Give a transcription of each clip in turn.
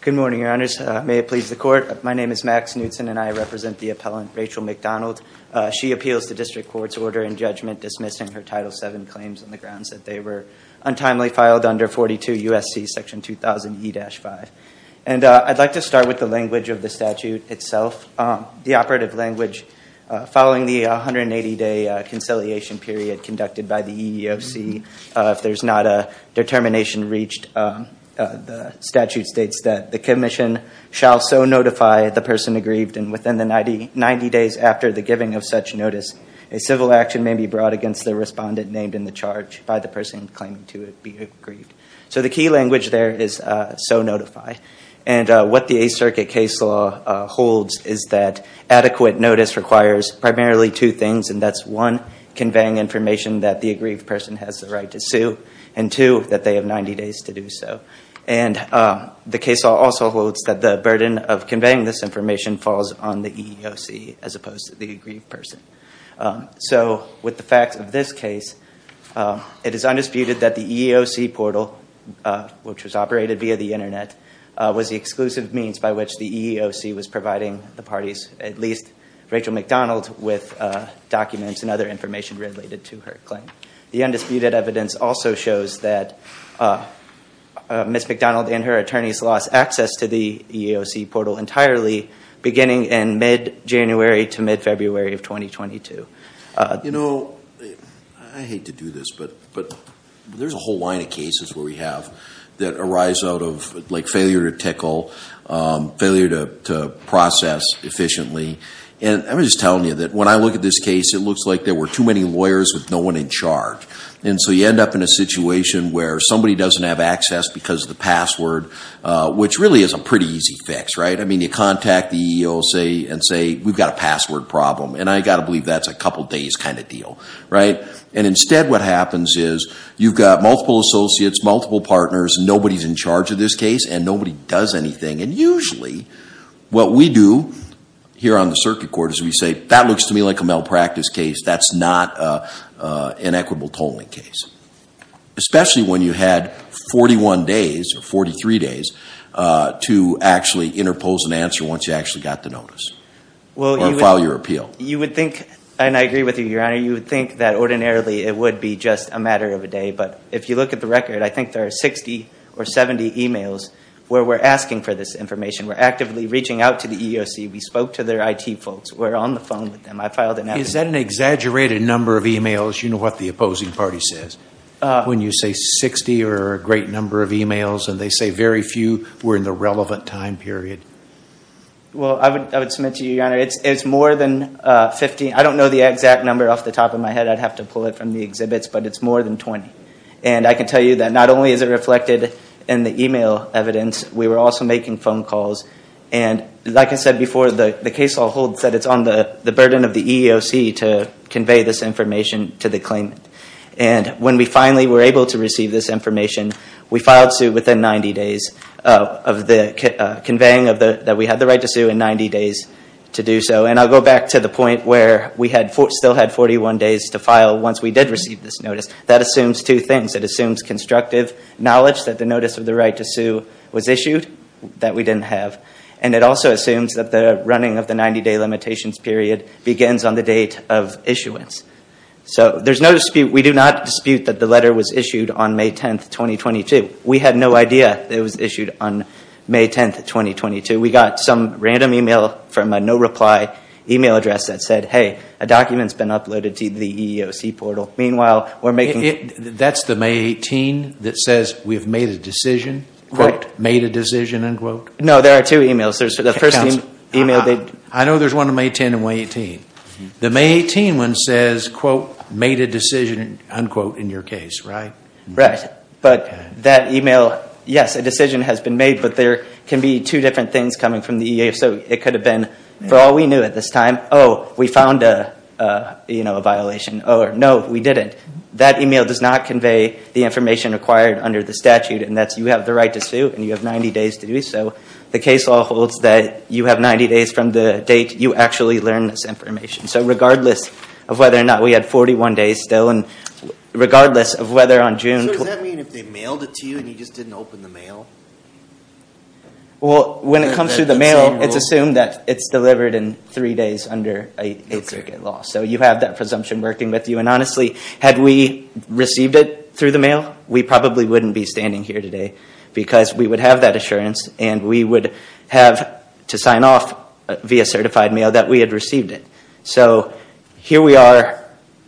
Good morning, your honors. May it please the court, my name is Max Knutson and I represent the appellant Rachel McDonald. She appeals the district court's order in judgment dismissing her Title VII claims on the grounds that they were untimely filed under 42 U.S.C. section 2000 E-5. And I'd like to start with the language of the statute itself. The operative language following the 180 day conciliation period conducted by the EEOC, if there's not a determination reached, the statute states that the commission shall so notify the person aggrieved and within the 90 days after the giving of such notice, a civil action may be brought against the respondent named in the charge by the person claiming to be aggrieved. So the key language there is so notify. And what the Eighth Circuit case law holds is that adequate notice requires primarily two things, and that's one, conveying information that the aggrieved person has the right to sue, and two, that they have 90 days to do so. And the case law also holds that the burden of conveying this information falls on the EEOC as opposed to the aggrieved person. So with the facts of this case, it is undisputed that the EEOC portal, which was operated via the internet, was the exclusive means by which the EEOC was providing the parties, at least Rachel McDonald, with documents and other information related to her claim. The undisputed evidence also shows that Ms. McDonald and her attorneys lost access to the EEOC portal entirely beginning in mid-January to mid-February of 2022. You know, I hate to do this, but there's a whole line of cases where we have that arise out of like failure to tickle, failure to process efficiently. And I'm just telling you that when I look at this case, it looks like there were too many lawyers with no one in charge. And so you end up in a situation where somebody doesn't have access because of the password, which really is a pretty easy fix, right? I mean, you contact the EEOC and say, we've got a password problem. And I got to believe that's a couple days kind of deal, right? And instead what happens is you've got multiple associates, multiple partners, nobody's in charge of this case, and nobody does anything. And usually what we do here on the circuit court is we say, that looks to me like a malpractice case. That's not an equitable tolling case, especially when you had 41 days or 43 days to actually interpose an answer once you actually got the notice or file your appeal. You would think, and I agree with you, Your Honor, you would think that ordinarily it would be just a matter of a day. But if you look at the record, I think there are 60 or 70 emails where we're asking for this information. We're actively reaching out to the EEOC. We spoke to their IT folks. We're on the phone with them. I filed an application. Is that an exaggerated number of emails, you know what the opposing party says, when you say 60 or a great number of emails and they say very few were in the relevant time period? Well, I would submit to you, Your Honor, it's more than 50. I don't know the exact number off the top of my head. I'd have to pull it from the exhibits. But it's more than 20. And I can tell you that not only is it reflected in the email evidence, we were also making phone calls. And like I said before, the case law holds that it's on the burden of the EEOC to convey this information to the claimant. And when we finally were able to receive this information, we filed suit within 90 days of the conveying that we had the right to sue in 90 days to do so. And I'll go back to the point where we still had 41 days to file once we did receive this notice. That assumes two things. It assumes constructive knowledge that the notice of the right to sue was issued that we didn't have. And it also assumes that the running of the 90-day limitations period begins on the date of issuance. So there's no dispute, we do not dispute that the letter was issued on May 10, 2022. We had no idea it was issued on May 10, 2022. We got some random email from a no-reply email address that said, hey, a document's been uploaded to the EEOC portal. Meanwhile, we're saying we've made a decision, quote, made a decision, unquote. No, there are two emails. There's the first email that... I know there's one on May 10 and May 18. The May 18 one says, quote, made a decision, unquote, in your case, right? Right. But that email, yes, a decision has been made, but there can be two different things coming from the EEOC. It could have been, for all we knew at this time, oh, we found a violation, or no, we didn't. That email does not convey the information required under the statute, and that's you have the right to sue and you have 90 days to do so. The case law holds that you have 90 days from the date you actually learned this information. So regardless of whether or not we had 41 days still, and regardless of whether on June... So does that mean if they mailed it to you and you just didn't open the mail? Well, when it comes through the mail, it's assumed that it's delivered in three days under a circuit law. So you have that presumption working with you. And honestly, had we received it through the mail, we probably wouldn't be standing here today because we would have that assurance and we would have to sign off via certified mail that we had received it. So here we are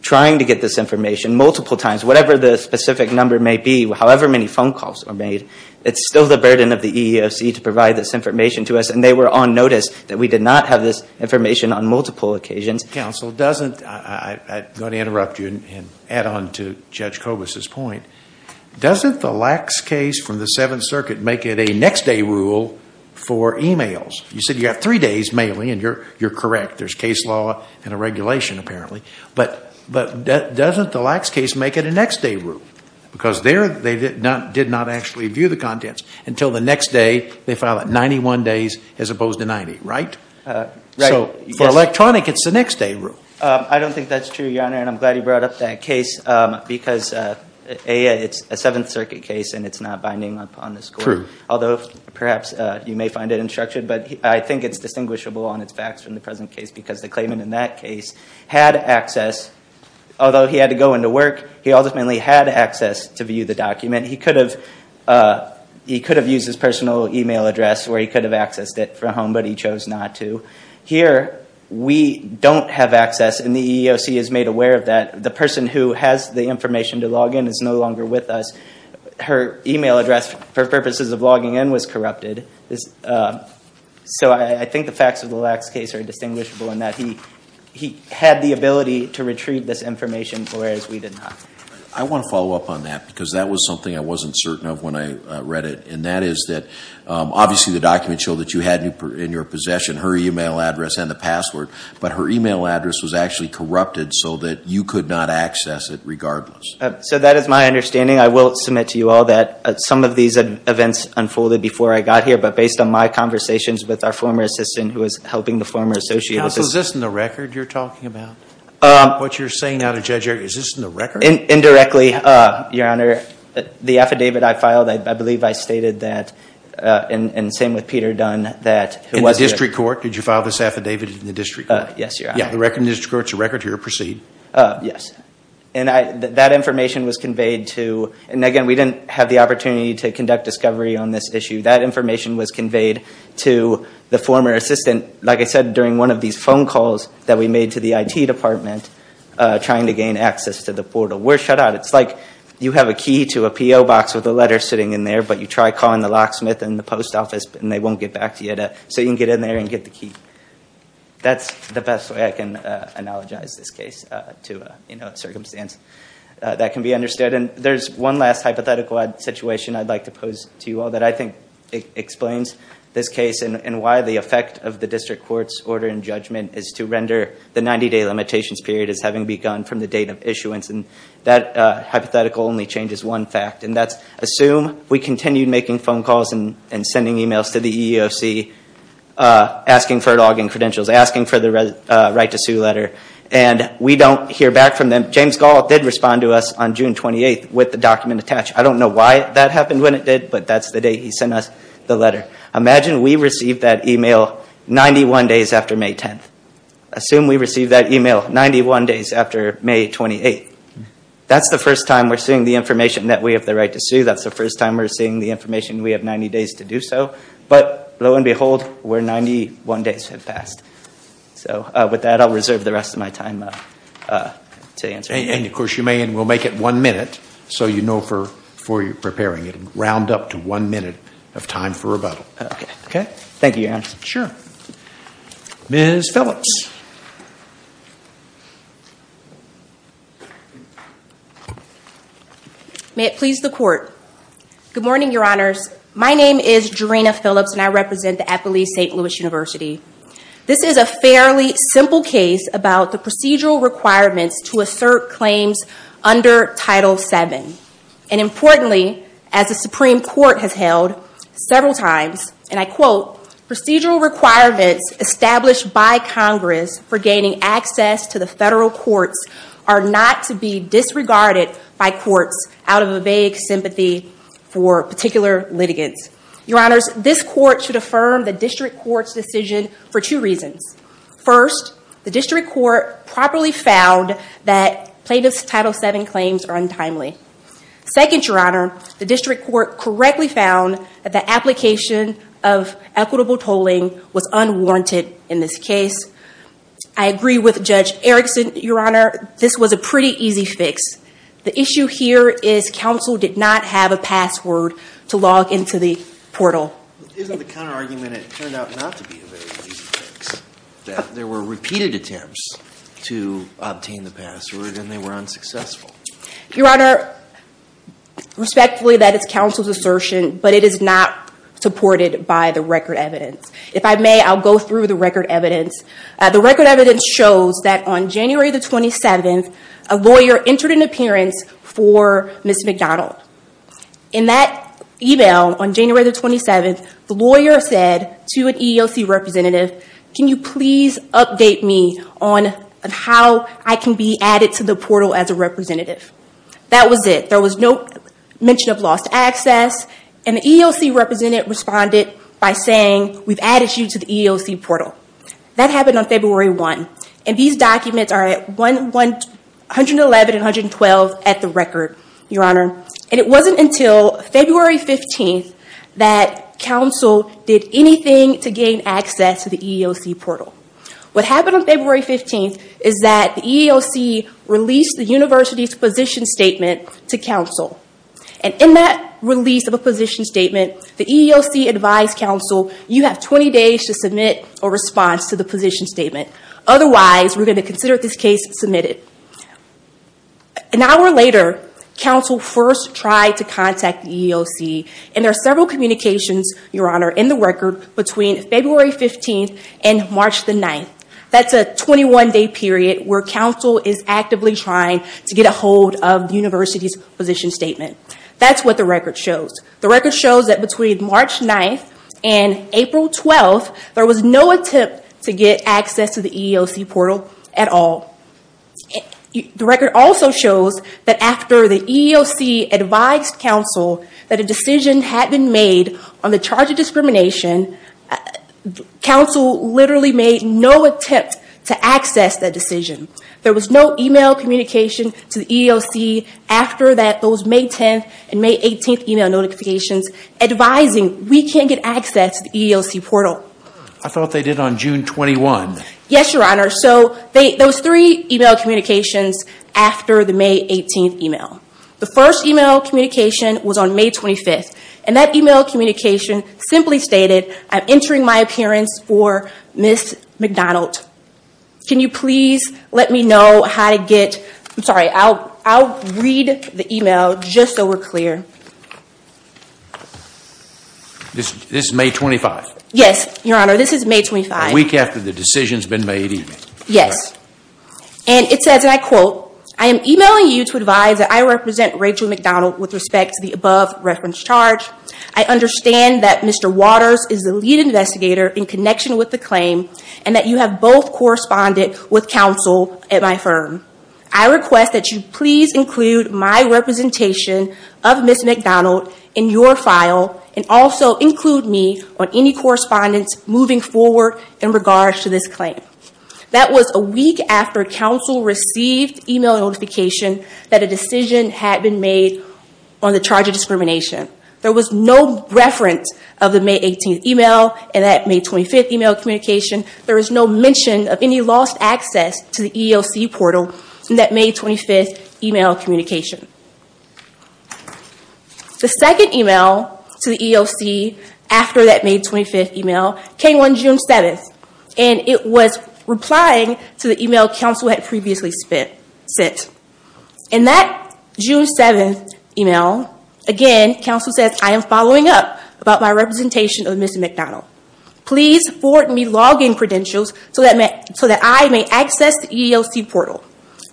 trying to get this information multiple times, whatever the specific number may be, however many phone calls are made, it's still the burden of the EEOC to provide this information to us. And they were on notice that we did not have this information on multiple occasions. Mr. Counsel, doesn't... I'm going to interrupt you and add on to Judge Kobus' point. Doesn't the lax case from the Seventh Circuit make it a next day rule for emails? You said you have three days mainly, and you're correct. There's case law and a regulation apparently. But doesn't the lax case make it a next day rule? Because there, they did not actually view the contents until the next day. They file it 91 days as opposed to 90, right? Right. So for electronic, it's the next day rule. I don't think that's true, Your Honor, and I'm glad you brought up that case because A, it's a Seventh Circuit case and it's not binding upon the score. True. Although perhaps you may find it unstructured, but I think it's distinguishable on its facts from the present case because the claimant in that case had access, although he had to go into work, he ultimately had access to view the document. He could have used his We don't have access, and the EEOC is made aware of that. The person who has the information to log in is no longer with us. Her email address, for purposes of logging in, was corrupted. So I think the facts of the lax case are distinguishable in that he had the ability to retrieve this information whereas we did not. I want to follow up on that because that was something I wasn't certain of when I read it, and that is that obviously the document showed that you had in your possession her email address and the password, but her email address was actually corrupted so that you could not access it regardless. So that is my understanding. I will submit to you all that some of these events unfolded before I got here, but based on my conversations with our former assistant who was helping the former associate assistant... Counsel, is this in the record you're talking about? What you're saying out of judge's ear, is this in the record? Indirectly, Your Honor. The affidavit I filed, I believe I stated that, and same with Peter Dunn that... In the district court, did you file this affidavit in the district court? Yes, Your Honor. Yeah, the district court's record here. Proceed. That information was conveyed to... and again, we didn't have the opportunity to conduct discovery on this issue. That information was conveyed to the former assistant, like I said, during one of these phone calls that we made to the IT department trying to gain access to the portal. We're shut out. It's like you have a key to a P.O. box with a letter sitting in there, but you try calling the locksmith and the post office and they won't get back to you so you can get in there and get the key. That's the best way I can analogize this case to a circumstance that can be understood. There's one last hypothetical situation I'd like to pose to you all that I think explains this case and why the effect of the district court's order in judgment is to render the 90-day limitations period as having begun from the date of issuance. That hypothetical only changes one fact, and that's assume we continued making phone calls and sending emails to the EEOC asking for log-in credentials, asking for the right to sue letter, and we don't hear back from them. James Gallup did respond to us on June 28th with the document attached. I don't know why that happened when it did, but that's the day he sent us the letter. Imagine we received that email 91 days after May 10th. Assume we received that email 91 days after May 28th. That's the first time we're seeing the information that we have the right to sue. That's the first time we're seeing the information we have 90 days to do so. But lo and behold, we're 91 days have passed. So with that, I'll reserve the rest of my time to answer. And of course, you may, and we'll make it one minute so you know before you're preparing. It'll round up to one minute of time for rebuttal. Okay. Thank you, Your Honor. Sure. Ms. Phillips. May it please the court. Good morning, Your Honor. My name is Jarena Phillips, and I represent the Eppley St. Louis University. This is a fairly simple case about the procedural requirements to assert claims under Title VII. And importantly, as the Supreme Court has held several times, and I quote, procedural requirements established by Congress for gaining access to the federal courts are not to be Your Honors, this court should affirm the district court's decision for two reasons. First, the district court properly found that plaintiff's Title VII claims are untimely. Second, Your Honor, the district court correctly found that the application of equitable tolling was unwarranted in this case. I agree with Judge Erickson, Your Honor, this was a pretty easy fix. The issue here is counsel did not have a password to log into the portal. Isn't the counterargument it turned out not to be a very easy fix, that there were repeated attempts to obtain the password and they were unsuccessful? Your Honor, respectfully, that is counsel's assertion, but it is not supported by the record evidence. If I may, I'll go through the record evidence. The record evidence shows that on January 27th, a lawyer entered an appearance for Ms. McDonald. In that email on January 27th, the lawyer said to an EEOC representative, can you please update me on how I can be added to the portal as a representative? That was it. There was no mention of lost access, and the EEOC representative responded by saying, we've added you to the EEOC portal. That happened on February 1, and these documents are at 111 and 112 at the record, Your Honor. It wasn't until February 15th that counsel did anything to gain access to the EEOC portal. What happened on February 15th is that the EEOC released the university's position statement to counsel. In that release of a position statement to the vice counsel, you have 20 days to submit a response to the position statement. Otherwise, we're going to consider this case submitted. An hour later, counsel first tried to contact the EEOC, and there are several communications, Your Honor, in the record between February 15th and March 9th. That's a 21-day period where counsel is actively trying to get a hold of the university's position statement. That's what the record shows. The record shows that between March 9th and April 12th, there was no attempt to get access to the EEOC portal at all. The record also shows that after the EEOC advised counsel that a decision had been made on the charge of discrimination, counsel literally made no attempt to access that decision. There was no e-mail communication to the EEOC after those May 10th and May 18th e-mail notifications advising we can't get access to the EEOC portal. I thought they did on June 21st. Yes, Your Honor. There were three e-mail communications after the May 18th e-mail. The first e-mail communication was on May 25th. That e-mail communication simply stated, I'm entering my appearance for Ms. McDonald. Can you please let me know how to get, I'm sorry, I'll read the e-mail just so we're clear. This is May 25th? Yes, Your Honor. This is May 25th. A week after the decision's been made even. Yes. And it says, and I quote, I am e-mailing you to advise that I represent Rachel McDonald with respect to the above reference charge. I understand that Mr. Waters is the lead investigator in connection with the claim and that you have both corresponded with counsel at my firm. I request that you please include my representation of Ms. McDonald in your file and also include me on any correspondence moving forward in regards to this claim. That was a week after counsel received e-mail notification that a decision had been made on the charge of discrimination. There was no reference of the May 18th e-mail and that May 25th e-mail communication. There was no mention of any lost access to the EEOC portal in that May 25th e-mail communication. The second e-mail to the EEOC after that May 25th e-mail came on June 7th and it was replying to the e-mail counsel had previously sent. In that June 7th e-mail, again, counsel says I am following up about my representation of Ms. McDonald. Please forward me login credentials so that I may access the EEOC portal.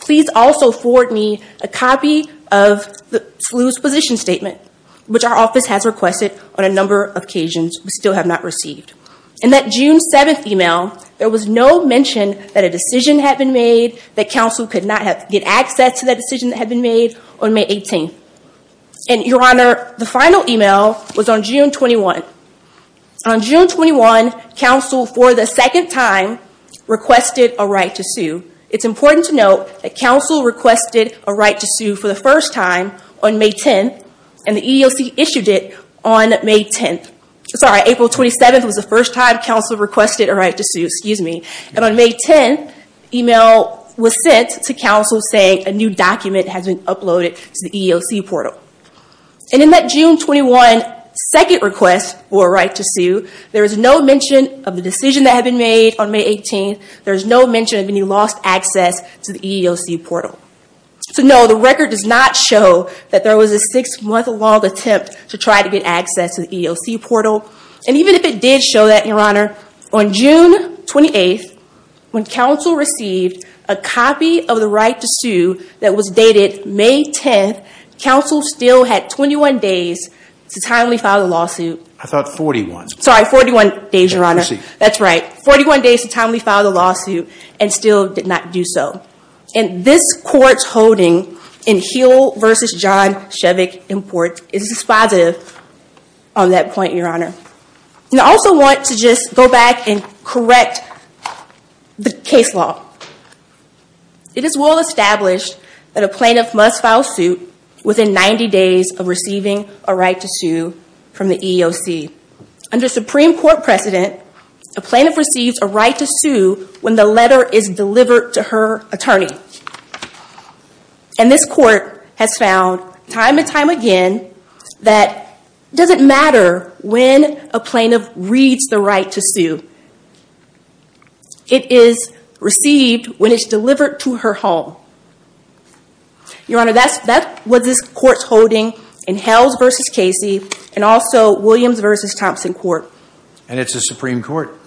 Please also forward me a copy of the SLU's position statement which our office has requested on a number of occasions. We still have not received. In that June 7th e-mail, there was no mention that a decision had been made, that counsel could not get access to that decision that had been made on May 18th. Your Honor, the EEOC on April 27th requested a right to sue. It is important to note that counsel requested a right to sue for the first time on May 10th and the EEOC issued it on April 27th. On May 10th, the e-mail was sent to counsel saying a new document has been uploaded to the EEOC portal. In that June 21 second request for a right to sue, there was no mention of the decision that had been made on May 18th. There is no mention of any lost access to the EEOC portal. So no, the record does not show that there was a six-month-long attempt to try to get access to the EEOC portal. And even if it did show that, Your Honor, on June 28th when counsel received a copy of the right to sue that was dated May 10th, counsel still had 21 days to timely file the lawsuit. I thought 41. Sorry, 41 days, Your Honor. That's right. 41 days to timely file the lawsuit and still did not do so. And this court's holding in Heal v. John Shevick Imports is dispositive on that point, Your Honor. And I also want to just go back and correct the case law. It is well established that a plaintiff must file suit within 90 days of receiving a right to sue from the EEOC. Under Supreme Court precedent, a plaintiff receives a right to sue when the letter is delivered to her attorney. And this court has found time and time again that it doesn't matter when a plaintiff reads the right to sue. It is received when it's delivered to her home. Your Honor, that's what this court's holding in Hells v. Casey and also Williams v. Thompson Court. And it's a Supreme Court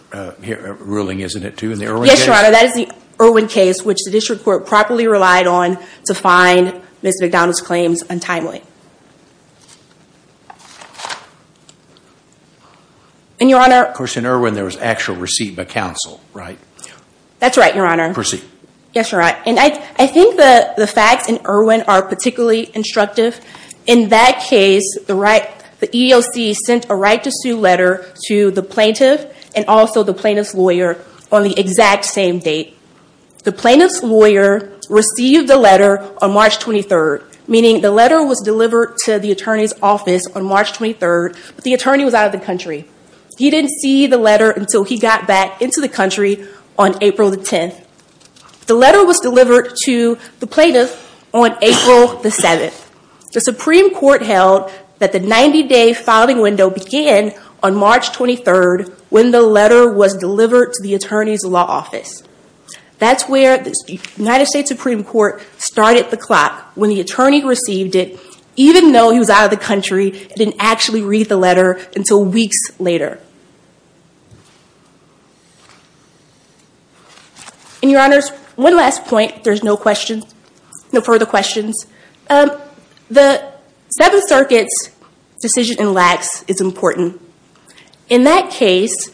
ruling, isn't it, too? Yes, Your Honor. That is the Irwin case, which the district court properly relied on to find Ms. McDonald's claims untimely. And, Your Honor... Of course, in Irwin there was actual receipt by counsel, right? That's right, Your Honor. Receipt. Yes, Your Honor. And I think the facts in Irwin are particularly instructive. In that case, the EEOC sent a right to sue letter to the plaintiff and also the plaintiff's lawyer on the exact same date. The plaintiff's lawyer received the letter on March 23rd, meaning the letter was delivered to the attorney's office on March 23rd, but the attorney was out of the country. He didn't see the letter until he got back into the country on April 10th. The letter was delivered to the plaintiff on April 7th. The Supreme Court held that the 90-day filing window began on March 23rd when the letter was delivered to the attorney's law office. That's where the United States Supreme Court started the clock when the attorney received it, even though he was out of the country and didn't actually read the letter until weeks later. And Your Honors, one last point. There's no further questions. The Seventh Circuit's decision in lax is important. In that case,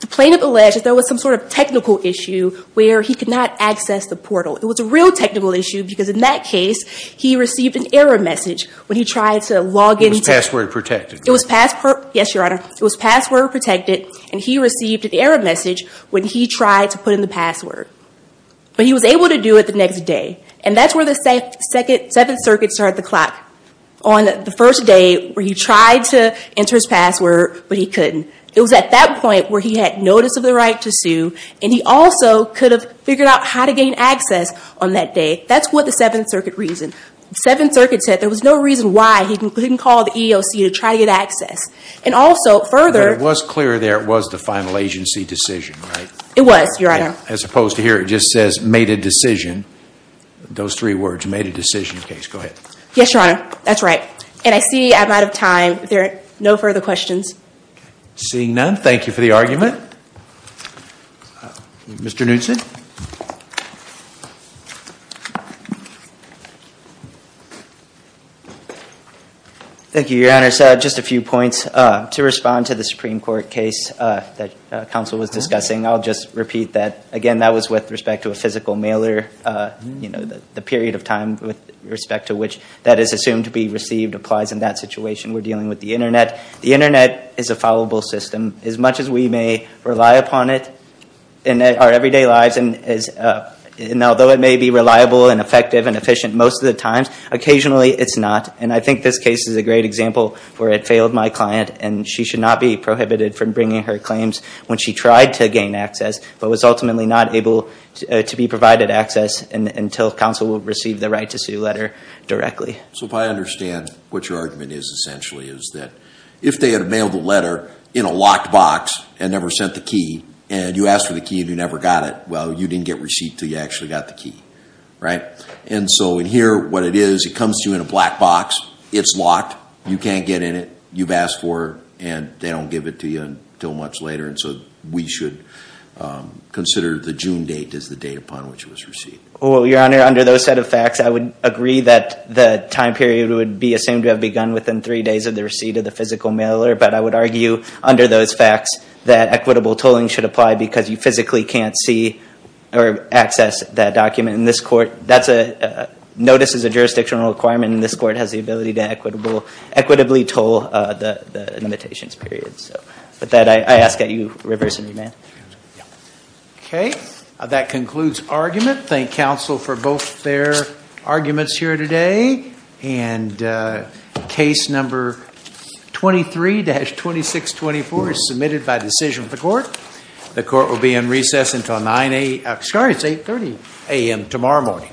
the plaintiff alleged that there was some sort of technical issue where he could not access the portal. It was a real technical issue because in that case, he received an error message when he tried to log in. It was password protected. Yes, Your Honor. It was password protected, and he received an error message when he tried to put in the password. But he was able to do it the next day, and that's where the Seventh Circuit started the clock on the first day where he tried to enter his password, but he couldn't. It was at that point where he had notice of the right to sue, and he also could have figured out how to gain access on that day. That's what the Seventh Circuit said. The Seventh Circuit said there was no reason why he couldn't call the EEOC to try to get access. And also, further... It was clear there was the final agency decision, right? It was, Your Honor. As opposed to here, it just says, made a decision. Those three words, made a decision case. Go ahead. Yes, Your Honor. That's right. And I see I'm out of time. There are no further questions. Seeing none, thank you for the argument. Mr. Knudson? Thank you, Your Honor. Just a few points. To respond to the Supreme Court case that counsel was discussing, I'll just repeat that. Again, that was with respect to a physical mailer. The period of time with respect to which that is assumed to be received applies in that situation. We're dealing with the Internet. The Internet is a fallible system. As much as we may rely upon it in our everyday lives, and although it may be reliable and effective and efficient most of the time, occasionally it's not. And I think this case is a great example where it failed my client, and she should not be prohibited from bringing her claims when she tried to gain access, but was ultimately not able to be provided access until counsel received the right to sue letter directly. So if I understand what your argument is, essentially, is that if they had mailed the letter in a locked box and never sent the key, and you asked for the key and you never got it, well, you didn't get receipt until you actually got the key, right? And so in here, what it is, it comes to you in a black box, it's locked, you can't get in it, you've asked for it, and they don't give it to you until months later, and so we should consider the June date as the date upon which it was received. Well, Your Honor, under those set of facts, I would agree that the time period would be assumed to have begun within three days of the receipt of the physical mailer, but I would argue under those facts that equitable tolling should apply because you physically can't see or access that document. In this court, notice is a jurisdictional requirement and this court has the ability to equitably toll the limitations period. So with that, I ask that you reverse and remand. Okay. That concludes argument. Thank counsel for both their arguments here today. And case number 23-2624 is submitted by decision of the court. The court will be in recess until 9 a.m. Sorry, it's 8.30 a.m. tomorrow morning.